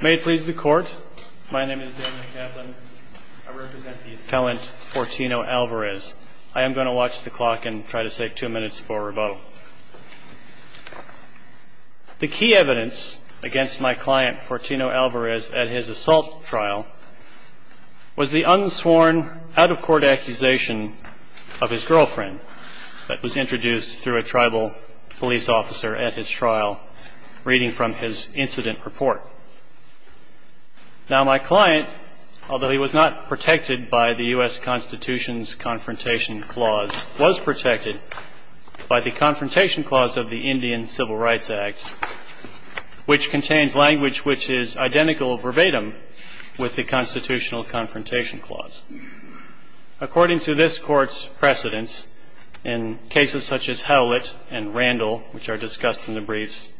May it please the court. My name is Daniel Kaplan. I represent the appellant Fortino Alvarez. I am going to watch the clock and try to save two minutes for rebuttal. The key evidence against my client, Fortino Alvarez, at his assault trial was the unsworn, out-of-court accusation of his girlfriend that was introduced through a tribal police officer at his trial, reading from his incident report. Now, my client, although he was not protected by the U.S. Constitution's Confrontation Clause, was protected by the Confrontation Clause of the Indian Civil Rights Act, which contains language which is identical verbatim with the constitutional Confrontation Clause. According to this Court's precedents, in cases such as Howlett and Randall, which are discussed in the briefs,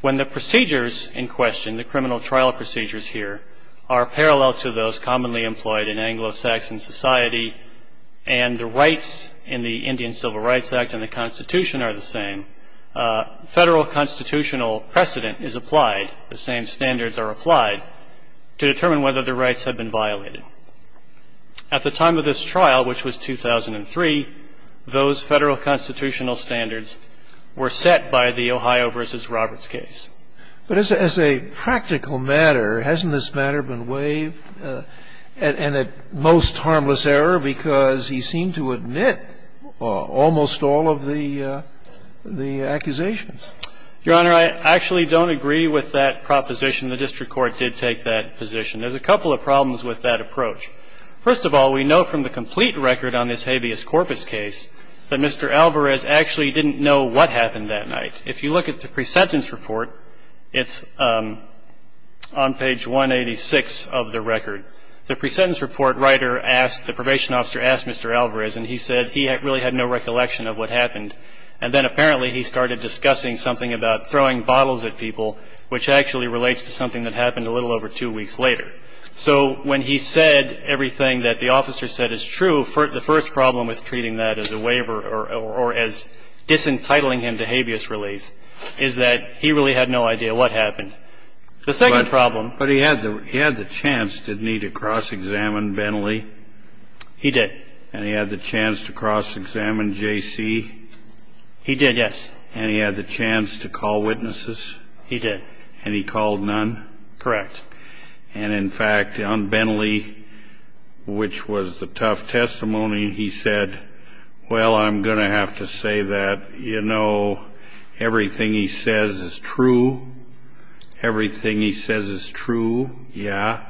when the procedures in question, the criminal trial procedures here, are parallel to those commonly employed in Anglo-Saxon society, and the rights in the Indian Civil Rights Act and the Constitution are the same, federal constitutional precedent is applied, the same standards are applied, to determine whether the rights have been violated. At the time of this trial, which was 2003, those federal constitutional standards were set by the Ohio v. Roberts case. But as a practical matter, hasn't this matter been waived in a most harmless error because he seemed to admit almost all of the accusations? Your Honor, I actually don't agree with that proposition. The district court did take that position. There's a couple of problems with that approach. First of all, we know from the complete record on this habeas corpus case that Mr. Alvarez actually didn't know what happened that night. If you look at the pre-sentence report, it's on page 186 of the record. The pre-sentence report writer asked, the probation officer asked Mr. Alvarez, and he said he really had no recollection of what happened. And then apparently he started discussing something about throwing bottles at people, which actually relates to something that happened a little over two weeks later. So when he said everything that the officer said is true, the first problem with treating that as a waiver or as disentitling him to habeas relief is that he really had no idea what happened. The second problem was he had the chance, didn't he, to cross-examine Bentley? He did. And he had the chance to cross-examine J.C.? He did, yes. And he had the chance to call witnesses? He did. And he called none? Correct. And in fact, on Bentley, which was the tough testimony, he said, well, I'm going to have to say that, you know, everything he says is true. Everything he says is true, yeah?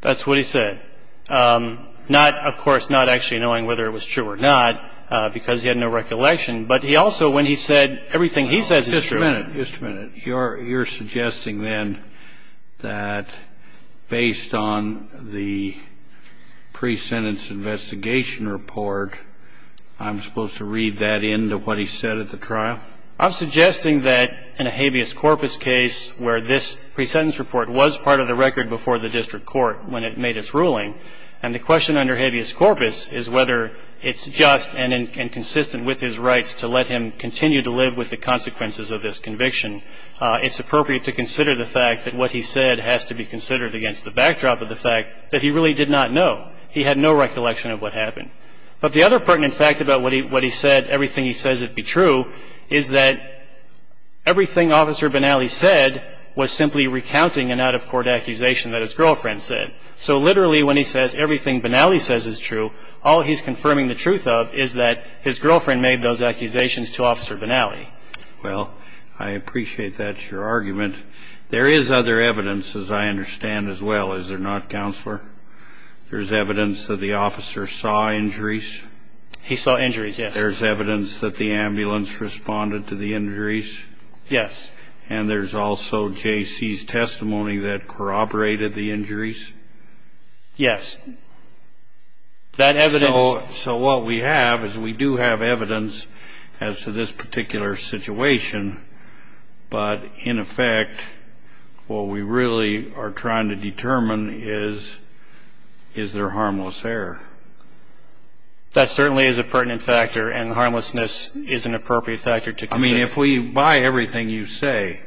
That's what he said. Not, of course, not actually knowing whether it was true or not, because he had no recollection, but he also, when he said everything he says is true. Just a minute. Just a minute. You're suggesting then that based on the pre-sentence investigation report, I'm supposed to read that into what he said at the trial? I'm suggesting that in a habeas corpus case where this pre-sentence report was part of the record before the district court when it made its ruling, and the question under habeas corpus is whether it's just and consistent with his rights to let him continue to live with the consequences of this conviction. It's appropriate to consider the fact that what he said has to be considered against the backdrop of the fact that he really did not know. He had no recollection of what happened. But the other pertinent fact about what he said, everything he says would be true, is that everything Officer Benally said was simply recounting an out-of-court accusation that his girlfriend said. So literally when he says everything Benally says is true, all he's confirming the truth of is that his girlfriend made those accusations to Officer Benally. Well, I appreciate that's your argument. There is other evidence, as I understand as well, is there not, Counselor? There's evidence that the officer saw injuries. He saw injuries, yes. There's evidence that the ambulance responded to the injuries. Yes. And there's also J.C.'s testimony that corroborated the injuries. Yes. That evidence. So what we have is we do have evidence as to this particular situation. But in effect, what we really are trying to determine is, is there harmless error? That certainly is a pertinent factor, and harmlessness is an appropriate factor to consider. I mean, if we buy everything you say,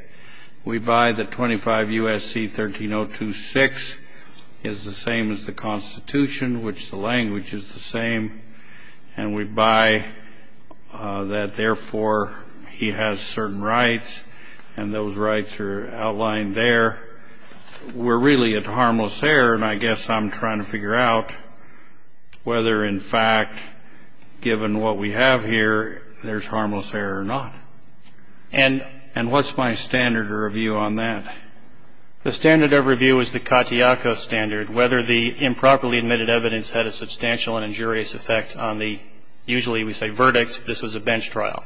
we buy that 25 U.S.C. 13026 is the same as the Constitution, which the language is the same, and we buy that, therefore, he has certain rights, and those rights are outlined there. We're really at harmless error, and I guess I'm trying to figure out whether, in fact, given what we have here, there's harmless error or not. And what's my standard of review on that? The standard of review is the Katayako standard, whether the improperly admitted evidence had a substantial and injurious effect on the, usually we say verdict, this was a bench trial.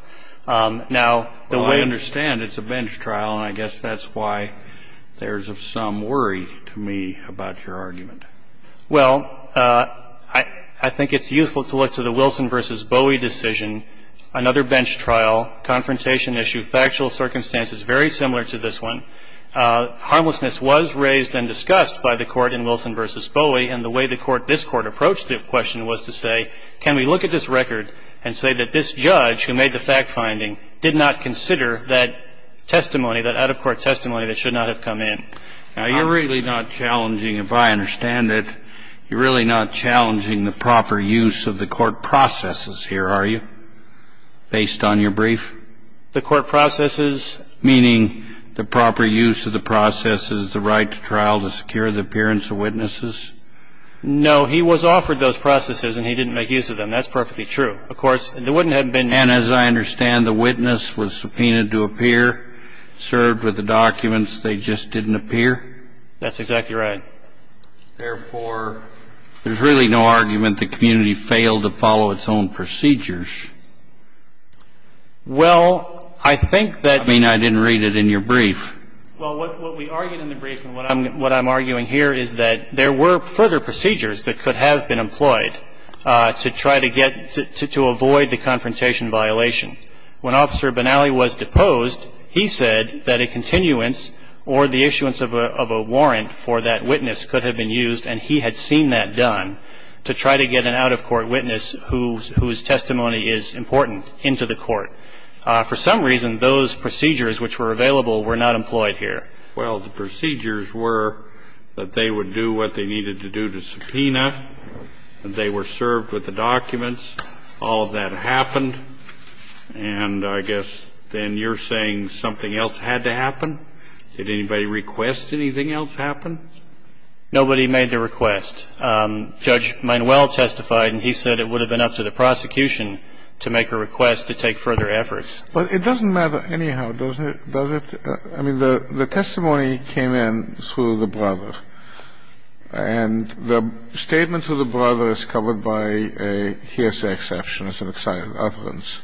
Now, the way I understand it, it's a bench trial, and I guess that's why there's some worry to me about your argument. Well, I think it's useful to look to the Wilson v. Bowie decision, another bench trial, confrontation issue, factual circumstances very similar to this one. Harmlessness was raised and discussed by the Court in Wilson v. Bowie, and the way the Court, this Court, approached the question was to say, can we look at this record and say that this judge who made the fact-finding did not consider that testimony, that out-of-court testimony, that should not have come in? Now, you're really not challenging, if I understand it, you're really not challenging the proper use of the court processes here, are you, based on your brief? The court processes? Meaning the proper use of the processes, the right to trial to secure the appearance of witnesses? No. He was offered those processes, and he didn't make use of them. That's perfectly true. Of course, there wouldn't have been any. And as I understand, the witness was subpoenaed to appear, served with the documents, they just didn't appear? That's exactly right. Therefore, there's really no argument the community failed to follow its own procedures. Well, I think that you. I mean, I didn't read it in your brief. Well, what we argued in the brief and what I'm arguing here is that there were further procedures that could have been employed to try to get to avoid the confrontation violation. When Officer Benally was deposed, he said that a continuance or the issuance of a warrant for that witness could have been used, and he had seen that done, to try to get an out-of-court witness whose testimony is important into the court. For some reason, those procedures which were available were not employed here. Well, the procedures were that they would do what they needed to do to subpoena, that they were served with the documents. All of that happened. And I guess then you're saying something else had to happen? Did anybody request anything else happen? Nobody made the request. Judge Manuel testified, and he said it would have been up to the prosecution to make a request to take further efforts. But it doesn't matter anyhow, does it? I mean, the testimony came in through the brother. And the statement to the brother is covered by a hearsay exception as an excited utterance.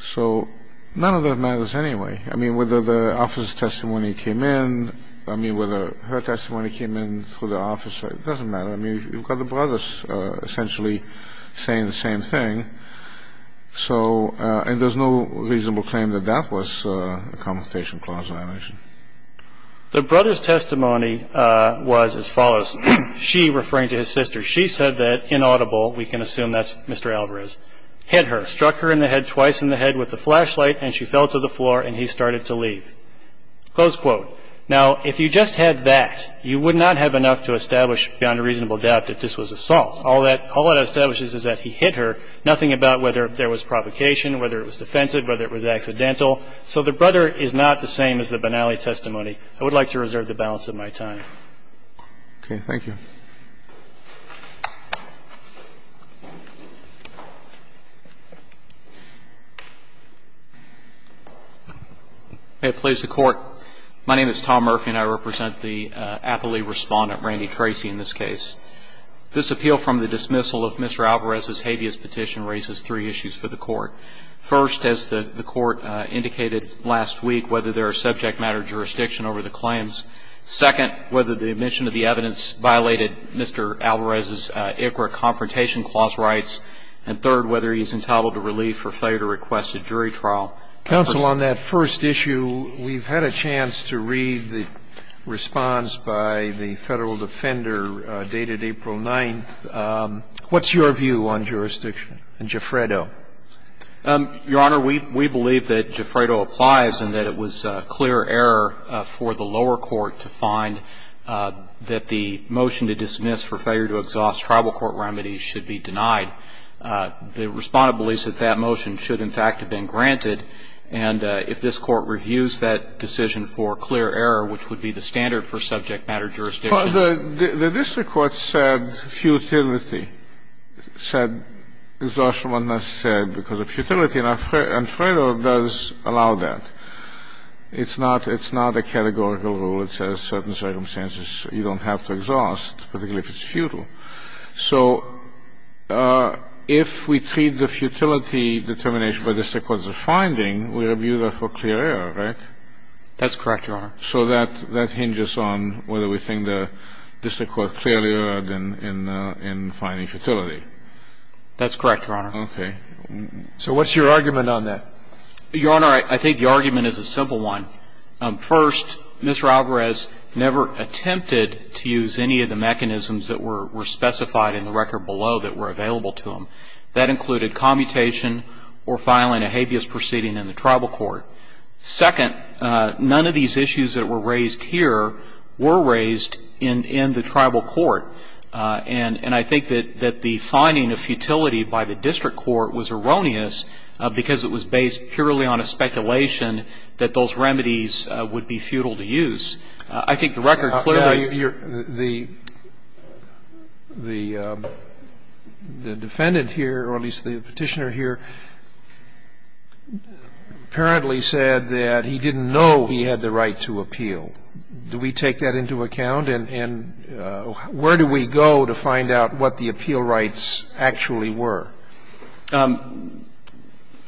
So none of that matters anyway. I mean, whether the officer's testimony came in, I mean, whether her testimony came in through the officer, it doesn't matter. I mean, you've got the brothers essentially saying the same thing. So and there's no reasonable claim that that was a Confrontation Clause violation. The brother's testimony was as follows. She, referring to his sister, she said that inaudible, we can assume that's Mr. Alvarez, hit her, struck her in the head twice in the head with the flashlight, and she fell to the floor and he started to leave. Close quote. Now, if you just had that, you would not have enough to establish beyond a reasonable doubt that this was assault. All that establishes is that he hit her, nothing about whether there was provocation, whether it was defensive, whether it was accidental. So the brother is not the same as the Benally testimony. I would like to reserve the balance of my time. Okay. Thank you. May it please the Court. My name is Tom Murphy, and I represent the appellee respondent, Randy Tracy, in this case. This appeal from the dismissal of Mr. Alvarez's habeas petition raises three issues for the Court. First, as the Court indicated last week, whether there are subject matter jurisdiction over the claims. Second, whether the admission of the evidence violated Mr. Alvarez's ICRA Confrontation Clause rights. And third, whether he's entitled to relief for failure to request a jury trial. Counsel, on that first issue, we've had a chance to read the response by the Federal Defender dated April 9th. What's your view on jurisdiction? And Gifredo? Your Honor, we believe that Gifredo applies and that it was clear error for the lower court to find that the motion to dismiss for failure to exhaust tribal court remedies should be denied. The respondent believes that that motion should, in fact, have been granted. And if this Court reviews that decision for clear error, which would be the standard for subject matter jurisdiction. The district court said futility, said exhaustion must be said because of futility, and Gifredo does allow that. It's not a categorical rule. It says certain circumstances you don't have to exhaust, particularly if it's futile. So if we treat the futility determination by district courts as a finding, we review that for clear error, right? That's correct, Your Honor. So that hinges on whether we think the district court clearly erred in finding futility. That's correct, Your Honor. Okay. So what's your argument on that? Your Honor, I think the argument is a simple one. First, Mr. Alvarez never attempted to use any of the mechanisms that were specified in the record below that were available to him. That included commutation or filing a habeas proceeding in the tribal court. Second, none of these issues that were raised here were raised in the tribal court. And I think that the finding of futility by the district court was erroneous because it was based purely on a speculation that those remedies would be futile to use. I think the record clearly you're The defendant here, or at least the Petitioner here, apparently said that he didn't know he had the right to appeal. Do we take that into account? And where do we go to find out what the appeal rights actually were?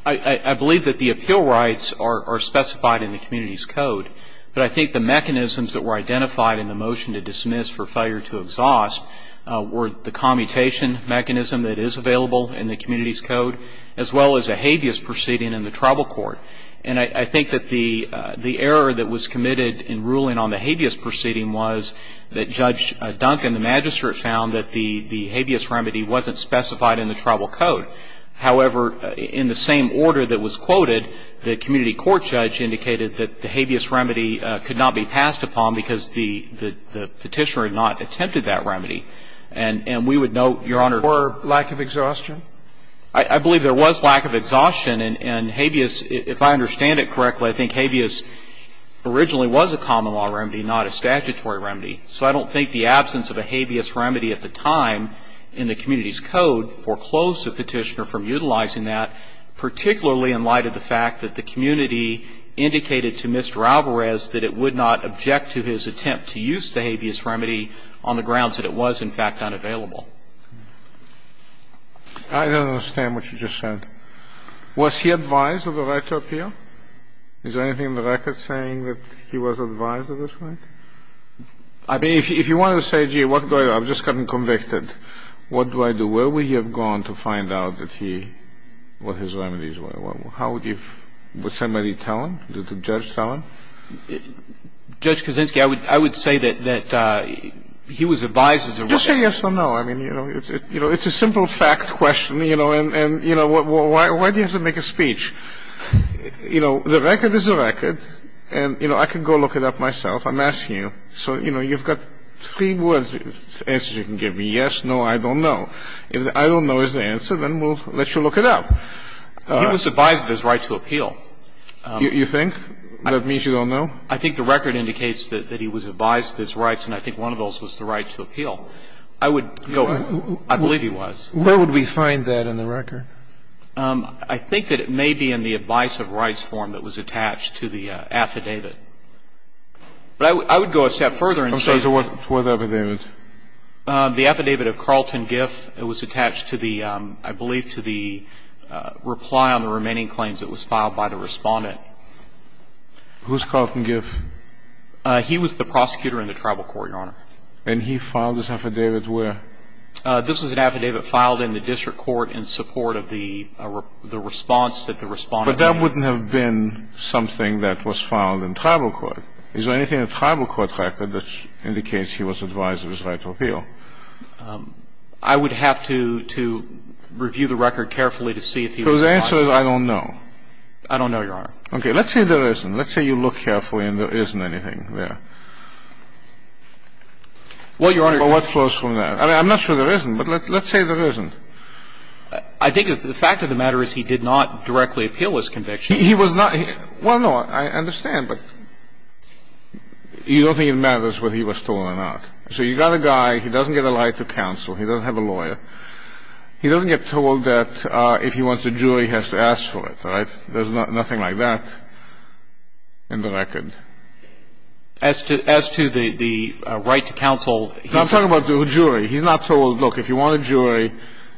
I believe that the appeal rights are specified in the community's code. But I think the mechanisms that were identified in the motion to dismiss for failure to exhaust were the commutation mechanism that is available in the community's code as well as a habeas proceeding in the tribal court. And I think that the error that was committed in ruling on the habeas proceeding was that Judge Duncan, the magistrate, found that the habeas remedy wasn't specified in the tribal code. However, in the same order that was quoted, the community court judge indicated that the habeas remedy could not be passed upon because the Petitioner had not attempted that remedy. And we would note, Your Honor For lack of exhaustion? I believe there was lack of exhaustion. And habeas, if I understand it correctly, I think habeas originally was a common law remedy, not a statutory remedy. So I don't think the absence of a habeas remedy at the time in the community's code foreclosed the Petitioner from utilizing that, particularly in light of the fact that the community indicated to Mr. Alvarez that it would not object to his attempt to use the habeas remedy on the grounds that it was, in fact, unavailable. I don't understand what you just said. Was he advised of the right to appeal? Is there anything in the record saying that he was advised of this right? I mean, if you wanted to say, gee, what do I do? I've just gotten convicted. What do I do? Where would he have gone to find out that he, what his remedies were? How would you, would somebody tell him? Did the judge tell him? Judge Kaczynski, I would say that he was advised of the right. Just say yes or no. I mean, you know, it's a simple fact question, you know. And, you know, why do you have to make a speech? You know, the record is a record. And, you know, I can go look it up myself. I'm asking you. So, you know, you've got three words, answers you can give me. Yes, no, I don't know. If the I don't know is the answer, then we'll let you look it up. He was advised of his right to appeal. You think? That means you don't know? I think the record indicates that he was advised of his rights, and I think one of those was the right to appeal. I would go, I believe he was. Where would we find that in the record? I think that it may be in the advice of rights form that was attached to the affidavit. But I would go a step further and say that. To what affidavit? The affidavit of Carlton Giff. It was attached to the I believe to the reply on the remaining claims that was filed by the Respondent. Who's Carlton Giff? He was the prosecutor in the tribal court, Your Honor. And he filed this affidavit where? This was an affidavit filed in the district court in support of the response that the Respondent made. But that wouldn't have been something that was filed in tribal court. Is there anything in the tribal court record that indicates he was advised of his right to appeal? I would have to review the record carefully to see if he was advised. So the answer is I don't know. I don't know, Your Honor. Okay. Let's say there isn't. Let's say you look carefully and there isn't anything there. Well, Your Honor. Well, what flows from that? I mean, I'm not sure there isn't, but let's say there isn't. I think the fact of the matter is he did not directly appeal his conviction. He was not. Well, no. I understand. But you don't think it matters whether he was told or not. So you've got a guy. He doesn't get a right to counsel. He doesn't have a lawyer. He doesn't get told that if he wants a jury, he has to ask for it. All right? There's nothing like that in the record. As to the right to counsel. I'm talking about the jury. He's not told, look, if you want a jury,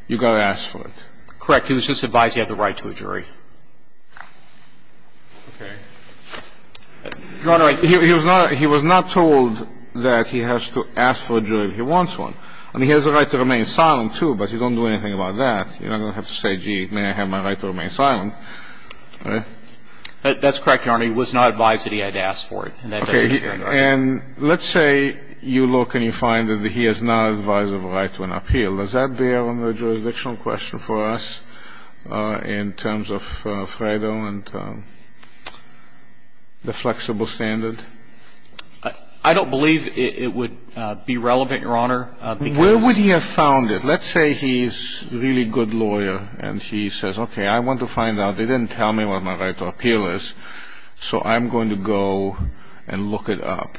you've got to ask for it. Correct. He was just advised he had the right to a jury. Your Honor, he was not told that he has to ask for a jury if he wants one. I mean, he has the right to remain silent, too, but you don't do anything about that. You don't have to say, gee, may I have my right to remain silent. That's correct, Your Honor. He was not advised that he had to ask for it. Okay. And let's say you look and you find that he is not advised of a right to an appeal. Does that bear on the jurisdictional question for us in terms of Fredo and the flexible standard? I don't believe it would be relevant, Your Honor. Where would he have found it? Let's say he's a really good lawyer and he says, okay, I want to find out. They didn't tell me what my right to appeal is, so I'm going to go and look it up.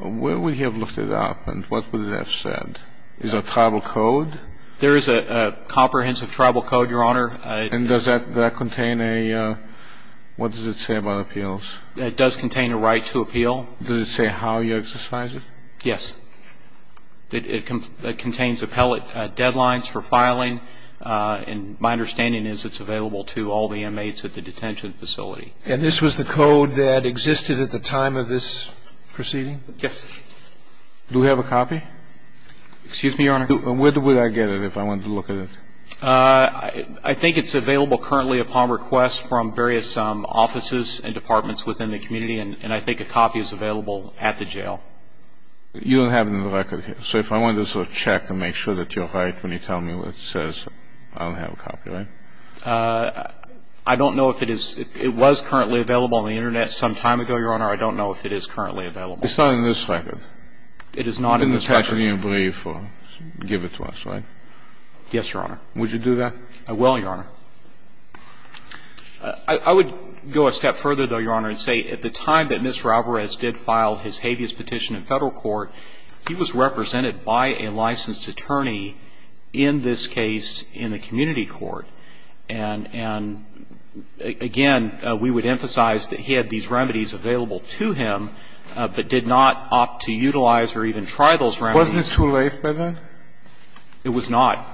Where would he have looked it up and what would it have said? Is there a tribal code? There is a comprehensive tribal code, Your Honor. And does that contain a ñ what does it say about appeals? It does contain a right to appeal. Does it say how you exercise it? Yes. It contains appellate deadlines for filing, and my understanding is it's available to all the inmates at the detention facility. And this was the code that existed at the time of this proceeding? Yes. Do we have a copy? Excuse me, Your Honor. Where would I get it if I wanted to look at it? I think it's available currently upon request from various offices and departments within the community, and I think a copy is available at the jail. You don't have it in the record here. So if I wanted to sort of check and make sure that you're right when you tell me what it says, I don't have a copy, right? I don't know if it is ñ it was currently available on the Internet some time ago, Your Honor. I don't know if it is currently available. It's not in this record? It is not in this record. I don't think it's available in the record. It's a process. And you're not going to give it to us, right? Yes, Your Honor. Would you do that? I will, Your Honor. I would go a step further, though, Your Honor, and say at the time that Mr. Alvarez did file his habeas petition in Federal court, he was represented by a licensed attorney in this case in the community court. And, again, we would emphasize that he had these remedies available to him, but did not opt to utilize or even try those remedies. Wasn't it too late by then? It was not.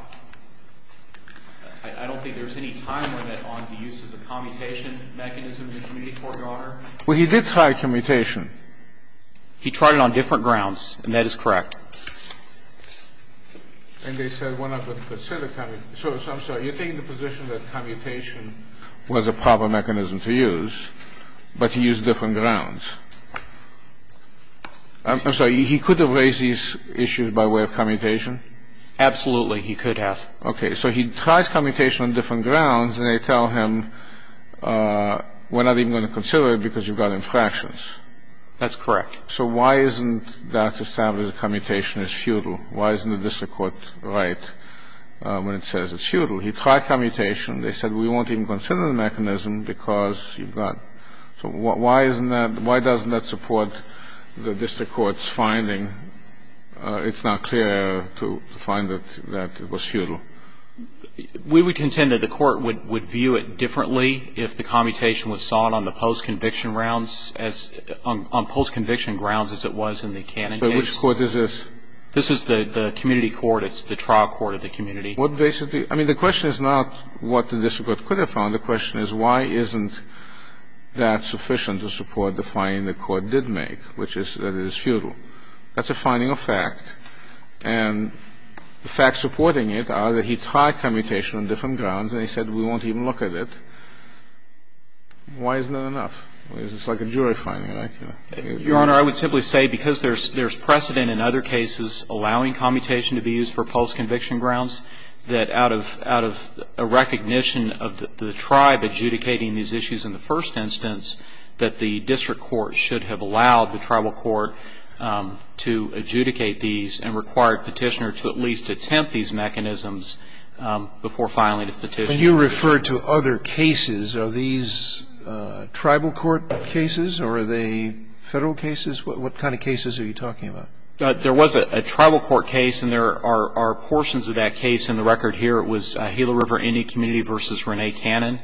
I don't think there's any time limit on the use of the commutation mechanism in the community court, Your Honor. Well, he did try commutation. He tried it on different grounds, and that is correct. And they said one of them considered commutation. So, I'm sorry. You're taking the position that commutation was a proper mechanism to use, but to use different grounds. I'm sorry. He could have raised these issues by way of commutation? Absolutely, he could have. Okay. So he tries commutation on different grounds, and they tell him we're not even going to consider it because you've got infractions. That's correct. So why isn't that established that commutation is futile? Why isn't the district court right when it says it's futile? He tried commutation. They said we won't even consider the mechanism because you've got. So why doesn't that support the district court's finding? It's not clear to find that it was futile. We would contend that the court would view it differently if the commutation was But which court is this? This is the community court. It's the trial court of the community. I mean, the question is not what the district court could have found. The question is why isn't that sufficient to support the finding the court did make, which is that it is futile. That's a finding of fact, and the facts supporting it are that he tried commutation on different grounds, and he said we won't even look at it. Why isn't that enough? It's like a jury finding, right? Your Honor, I would simply say because there's precedent in other cases allowing commutation to be used for post-conviction grounds, that out of a recognition of the tribe adjudicating these issues in the first instance, that the district court should have allowed the tribal court to adjudicate these and required Petitioner to at least attempt these mechanisms before filing a petition. And you refer to other cases. Are these tribal court cases, or are they Federal cases? What kind of cases are you talking about? There was a tribal court case, and there are portions of that case in the record here. It was Gila River Indian Community v. Rene Cannon,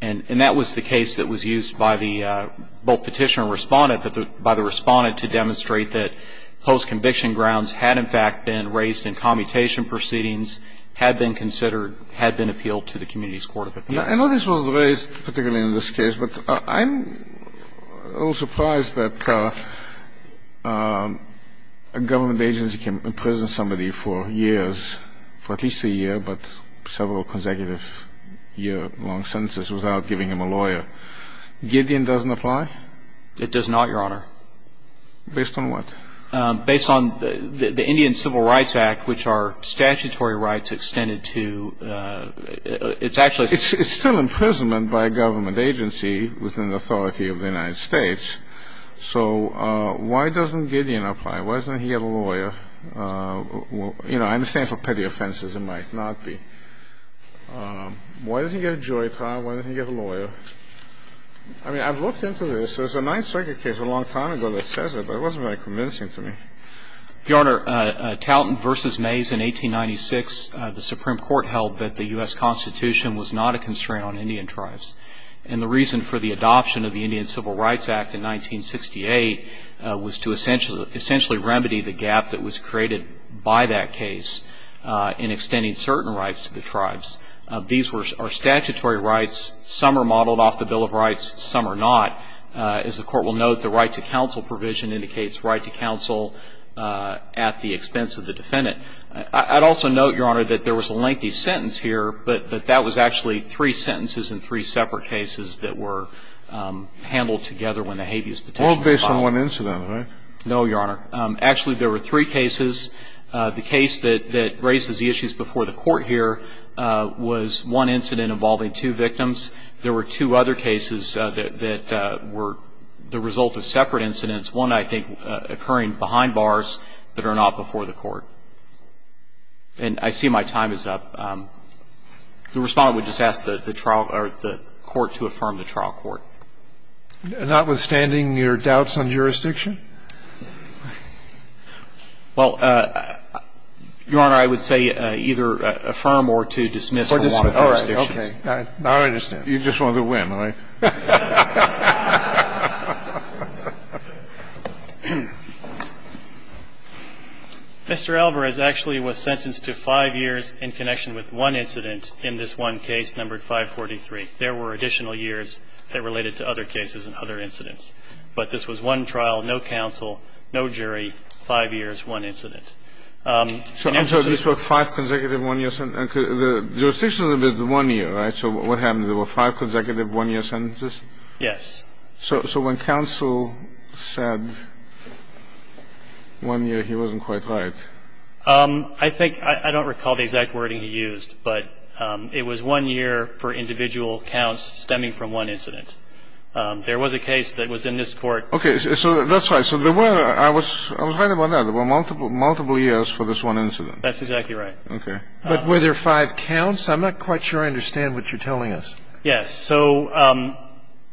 and that was the case that was used by both Petitioner and Respondent, but by the Respondent to demonstrate that post-conviction grounds had in fact been raised in commutation proceedings, had been considered, had been appealed to the community's court of appeals. I know this was raised particularly in this case, but I'm a little surprised that a government agency can imprison somebody for years, for at least a year, but several consecutive year-long sentences without giving him a lawyer. Gideon doesn't apply? It does not, Your Honor. Based on what? Based on the Indian Civil Rights Act, which are statutory rights extended to — it's actually — It's still imprisonment by a government agency within the authority of the United States, so why doesn't Gideon apply? Why doesn't he get a lawyer? You know, I understand for petty offenses it might not be. Why doesn't he get a jury trial? Why doesn't he get a lawyer? I mean, I've looked into this. There's a Ninth Circuit case a long time ago that says it, but it wasn't very convincing to me. Your Honor, Talton v. Mays in 1896, the Supreme Court held that the U.S. Constitution was not a constraint on Indian tribes. And the reason for the adoption of the Indian Civil Rights Act in 1968 was to essentially remedy the gap that was created by that case in extending certain rights to the tribes. These are statutory rights. Some are modeled off the Bill of Rights. Some are not. As the Court will note, the right to counsel provision indicates right to counsel at the expense of the defendant. I'd also note, Your Honor, that there was a lengthy sentence here, but that was actually three sentences in three separate cases that were handled together when the habeas petition was filed. All based on one incident, right? No, Your Honor. Actually, there were three cases. The case that raises the issues before the Court here was one incident involving two victims. There were two other cases that were the result of separate incidents, one, I think, occurring behind bars that are not before the Court. And I see my time is up. The Respondent would just ask the trial or the Court to affirm the trial court. Notwithstanding your doubts on jurisdiction? Well, Your Honor, I would say either affirm or to dismiss the one on jurisdiction. Okay. Now I understand. You just want to win, right? Mr. Alvarez actually was sentenced to five years in connection with one incident in this one case numbered 543. There were additional years that related to other cases and other incidents. But this was one trial, no counsel, no jury, five years, one incident. I'm sorry. These were five consecutive one-year sentences? The jurisdiction was one year, right? So what happened? There were five consecutive one-year sentences? Yes. So when counsel said one year, he wasn't quite right? I think – I don't recall the exact wording he used, but it was one year for individual counts stemming from one incident. There was a case that was in this Court. Okay. So that's right. So there were – I was right about that. There were multiple years for this one incident. That's exactly right. Okay. But were there five counts? I'm not quite sure I understand what you're telling us. Yes. So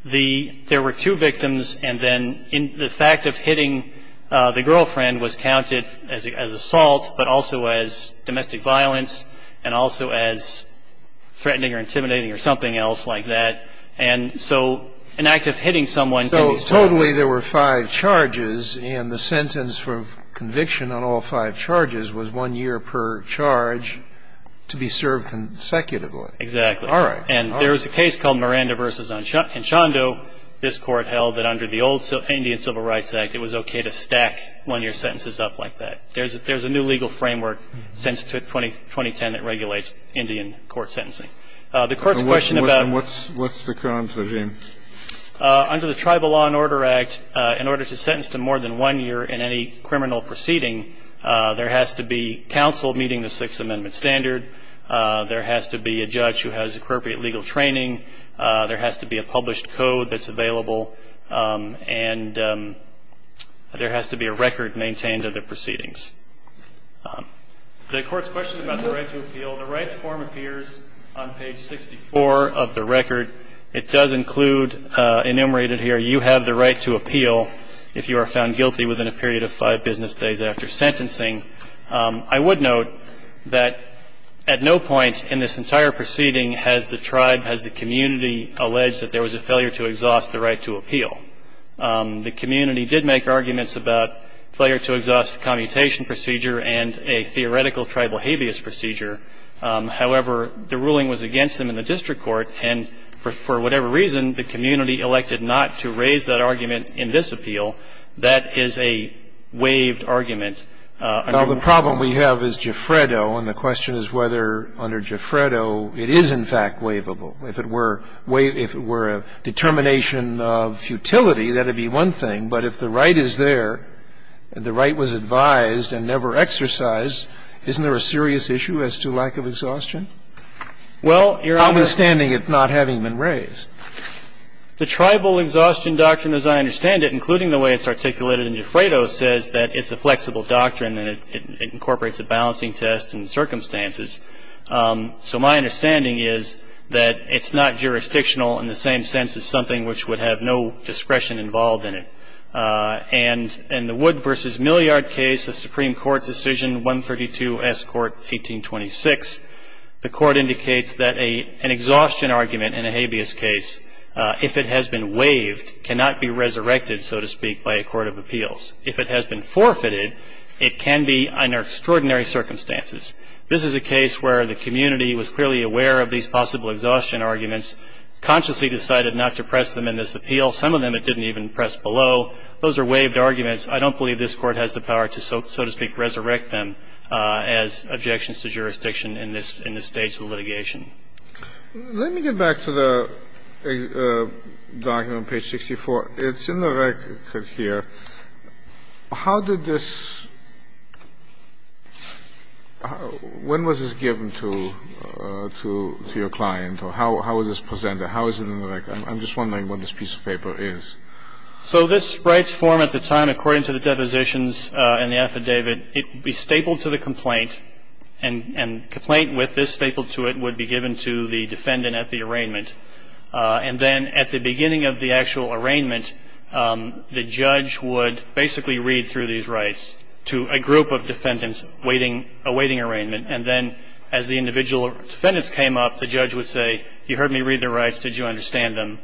there were two victims, and then the fact of hitting the girlfriend was counted as assault, but also as domestic violence and also as threatening or intimidating or something else like that. And so an act of hitting someone can be – Totally there were five charges, and the sentence for conviction on all five charges was one year per charge to be served consecutively. Exactly. All right. And there was a case called Miranda v. Enchando. This Court held that under the old Indian Civil Rights Act, it was okay to stack one-year sentences up like that. There's a new legal framework since 2010 that regulates Indian court sentencing. The Court's question about – What's the current regime? Under the Tribal Law and Order Act, in order to sentence to more than one year in any criminal proceeding, there has to be counsel meeting the Sixth Amendment standard. There has to be a judge who has appropriate legal training. There has to be a published code that's available. And there has to be a record maintained of the proceedings. The Court's question about the right to appeal, the rights form appears on page 64 of the record. It does include, enumerated here, you have the right to appeal if you are found guilty within a period of five business days after sentencing. I would note that at no point in this entire proceeding has the tribe, has the community alleged that there was a failure to exhaust the right to appeal. The community did make arguments about failure to exhaust commutation procedure and a theoretical tribal habeas procedure. However, the ruling was against them in the district court, and for whatever reason, the community elected not to raise that argument in this appeal. That is a waived argument. Now, the problem we have is Gifredo, and the question is whether under Gifredo it is, in fact, waivable. If it were a determination of futility, that would be one thing. But if the right is there, the right was advised and never exercised, isn't there a serious issue as to lack of exhaustion? Well, Your Honor. Understanding it not having been raised. The tribal exhaustion doctrine as I understand it, including the way it's articulated in Gifredo, says that it's a flexible doctrine and it incorporates a balancing test and circumstances. So my understanding is that it's not jurisdictional in the same sense as something which would have no discretion involved in it. And in the Wood v. Milliard case, the Supreme Court decision 132 S. Court 1826, the court indicates that an exhaustion argument in a habeas case, if it has been waived, cannot be resurrected, so to speak, by a court of appeals. If it has been forfeited, it can be under extraordinary circumstances. This is a case where the community was clearly aware of these possible exhaustion arguments, consciously decided not to press them in this appeal. Well, some of them it didn't even press below. Those are waived arguments. I don't believe this Court has the power to, so to speak, resurrect them as objections to jurisdiction in this stage of litigation. Let me get back to the document on page 64. It's in the record here. How did this – when was this given to your client, or how is this presented? How is it in the record? I'm just wondering what this piece of paper is. So this rights form at the time, according to the depositions in the affidavit, it would be stapled to the complaint, and complaint with this stapled to it would be given to the defendant at the arraignment. And then at the beginning of the actual arraignment, the judge would basically read through these rights to a group of defendants awaiting arraignment. And then as the individual defendants came up, the judge would say, you heard me read the rights. Did you understand them?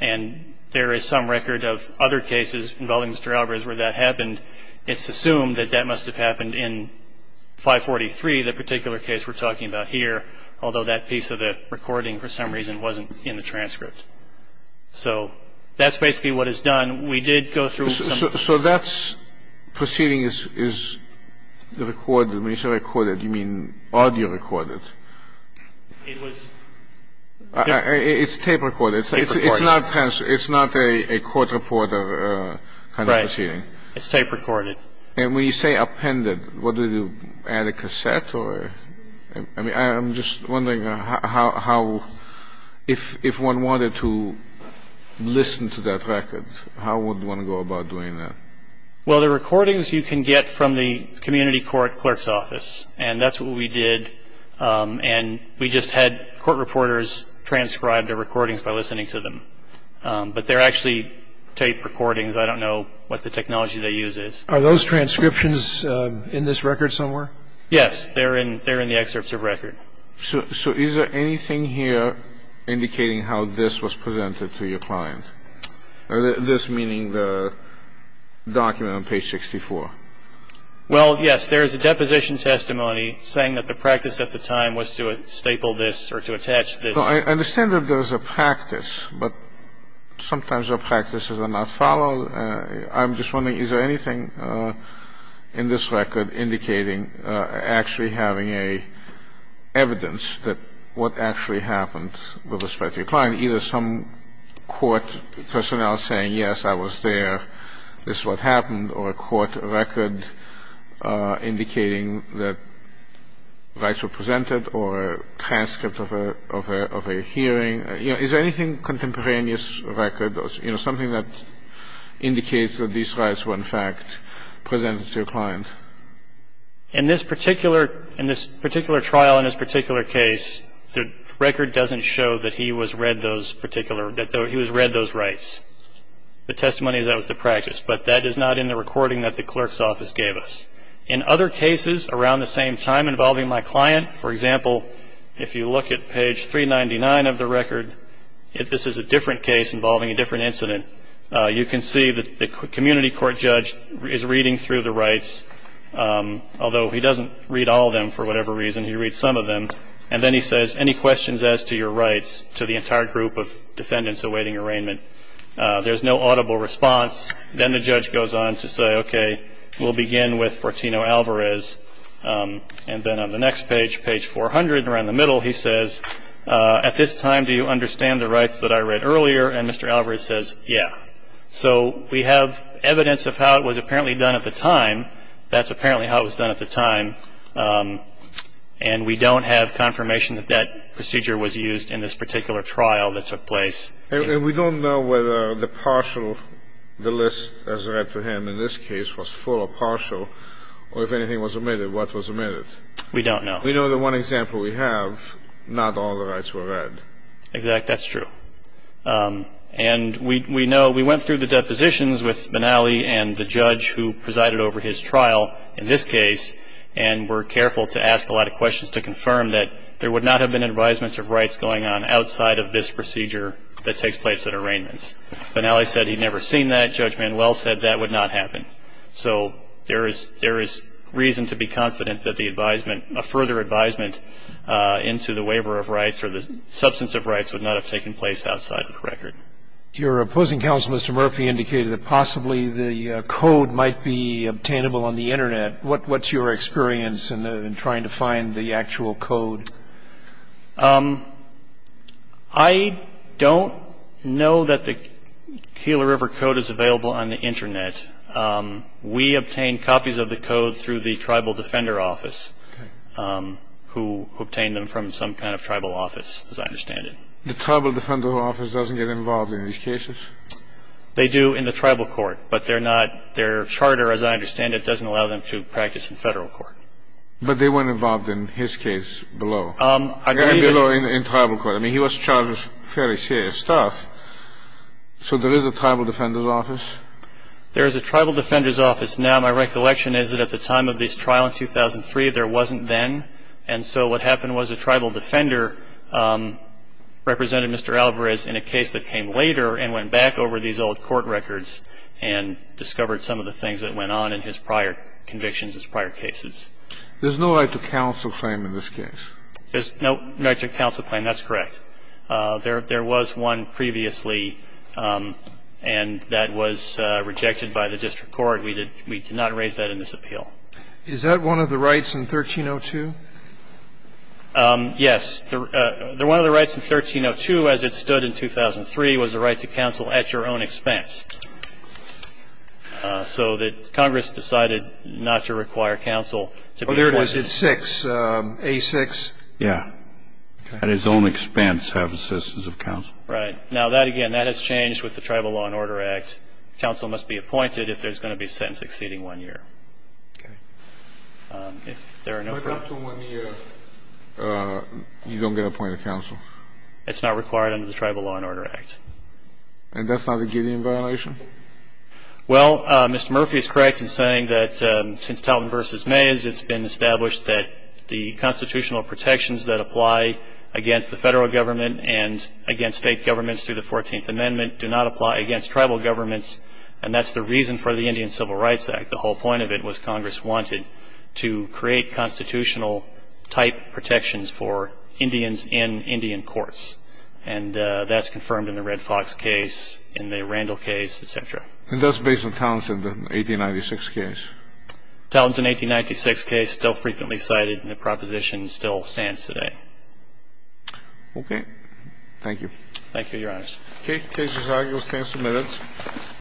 And there is some record of other cases involving Mr. Alvarez where that happened. It's assumed that that must have happened in 543, the particular case we're talking about here, although that piece of the recording for some reason wasn't in the transcript. So that's basically what is done. We did go through some – So that proceeding is recorded. When you say recorded, you mean audio recorded. It's tape recorded. It's not a court reporter kind of proceeding. Right. It's tape recorded. And when you say appended, what do you do, add a cassette? I mean, I'm just wondering how – if one wanted to listen to that record, how would one go about doing that? Well, the recordings you can get from the community court clerk's office, and that's what we did. And we just had court reporters transcribe the recordings by listening to them. But they're actually tape recordings. I don't know what the technology they use is. Are those transcriptions in this record somewhere? Yes. They're in the excerpts of record. So is there anything here indicating how this was presented to your client, this meaning the document on page 64? Well, yes. There is a deposition testimony saying that the practice at the time was to staple this or to attach this. So I understand that there was a practice, but sometimes the practices are not followed. I'm just wondering, is there anything in this record indicating actually having an evidence that what actually happened with respect to your client, either some court personnel saying, yes, I was there, this is what happened, or a court record indicating that rights were presented or a transcript of a hearing? You know, is there anything contemporaneous record, you know, something that indicates that these rights were, in fact, presented to your client? In this particular trial, in this particular case, the record doesn't show that he was read those particular – that he was read those rights. The testimony is that was the practice, but that is not in the recording that the clerk's office gave us. In other cases around the same time involving my client, for example, if you look at page 399 of the record, if this is a different case involving a different incident, you can see that the community court judge is reading through the rights, although he doesn't read all of them for whatever reason. He reads some of them, and then he says, any questions as to your rights to the entire group of defendants awaiting arraignment? There's no audible response. Then the judge goes on to say, okay, we'll begin with Fortino Alvarez. And then on the next page, page 400, around the middle, he says, at this time do you understand the rights that I read earlier? And Mr. Alvarez says, yeah. So we have evidence of how it was apparently done at the time. That's apparently how it was done at the time. And we don't have confirmation that that procedure was used in this particular trial that took place. And we don't know whether the partial, the list as read to him in this case, was full or partial, or if anything was omitted. What was omitted? We don't know. We know the one example we have, not all the rights were read. Exactly. That's true. And we know we went through the depositions with Benally and the judge who presided over his trial in this case, and were careful to ask a lot of questions to confirm that there would not have been advisements of rights going on outside of this procedure that takes place at arraignments. Benally said he'd never seen that. Judge Manuel said that would not happen. So there is reason to be confident that a further advisement into the waiver of rights or the substance of rights would not have taken place outside of the record. Your opposing counsel, Mr. Murphy, indicated that possibly the code might be obtainable on the Internet. What's your experience in trying to find the actual code? I don't know that the Keeler River Code is available on the Internet. We obtained copies of the code through the Tribal Defender Office, who obtained them from some kind of tribal office, as I understand it. The Tribal Defender Office doesn't get involved in these cases? They do in the tribal court. But they're not their charter, as I understand it, doesn't allow them to practice in federal court. But they weren't involved in his case below? In tribal court. I mean, he was charged with fairly serious stuff. So there is a Tribal Defender's Office? There is a Tribal Defender's Office. Now, my recollection is that at the time of this trial in 2003, there wasn't then. And so what happened was a tribal defender represented Mr. Alvarez in a case that came later and went back over these old court records and discovered some of the things that went on in his prior convictions, his prior cases. There's no right to counsel claim in this case? There's no right to counsel claim. That's correct. There was one previously, and that was rejected by the district court. We did not raise that in this appeal. Is that one of the rights in 1302? Yes. One of the rights in 1302, as it stood in 2003, was the right to counsel at your own expense. So that Congress decided not to require counsel to be appointed. Oh, there it is. It's 6. A-6. Yeah. At his own expense, have assistance of counsel. Right. Now, that again, that has changed with the Tribal Law and Order Act. Counsel must be appointed if there's going to be a sentence exceeding 1 year. Okay. If there are no further questions. Can I talk to him on the you don't get appointed counsel? It's not required under the Tribal Law and Order Act. And that's not a Gideon violation? Well, Mr. Murphy is correct in saying that since Talton v. Mays, it's been established that the constitutional protections that apply against the Federal government and against State governments through the Fourteenth Amendment do not apply against tribal governments, and that's the reason for the Indian Civil Rights Act. The whole point of it was Congress wanted to create constitutional-type protections for Indians in Indian courts. And that's confirmed in the Red Fox case, in the Randall case, et cetera. And that's based on Talton's 1896 case? Talton's 1896 case still frequently cited, and the proposition still stands today. Okay. Thank you. Thank you, Your Honors. Case is argued. The case is submitted.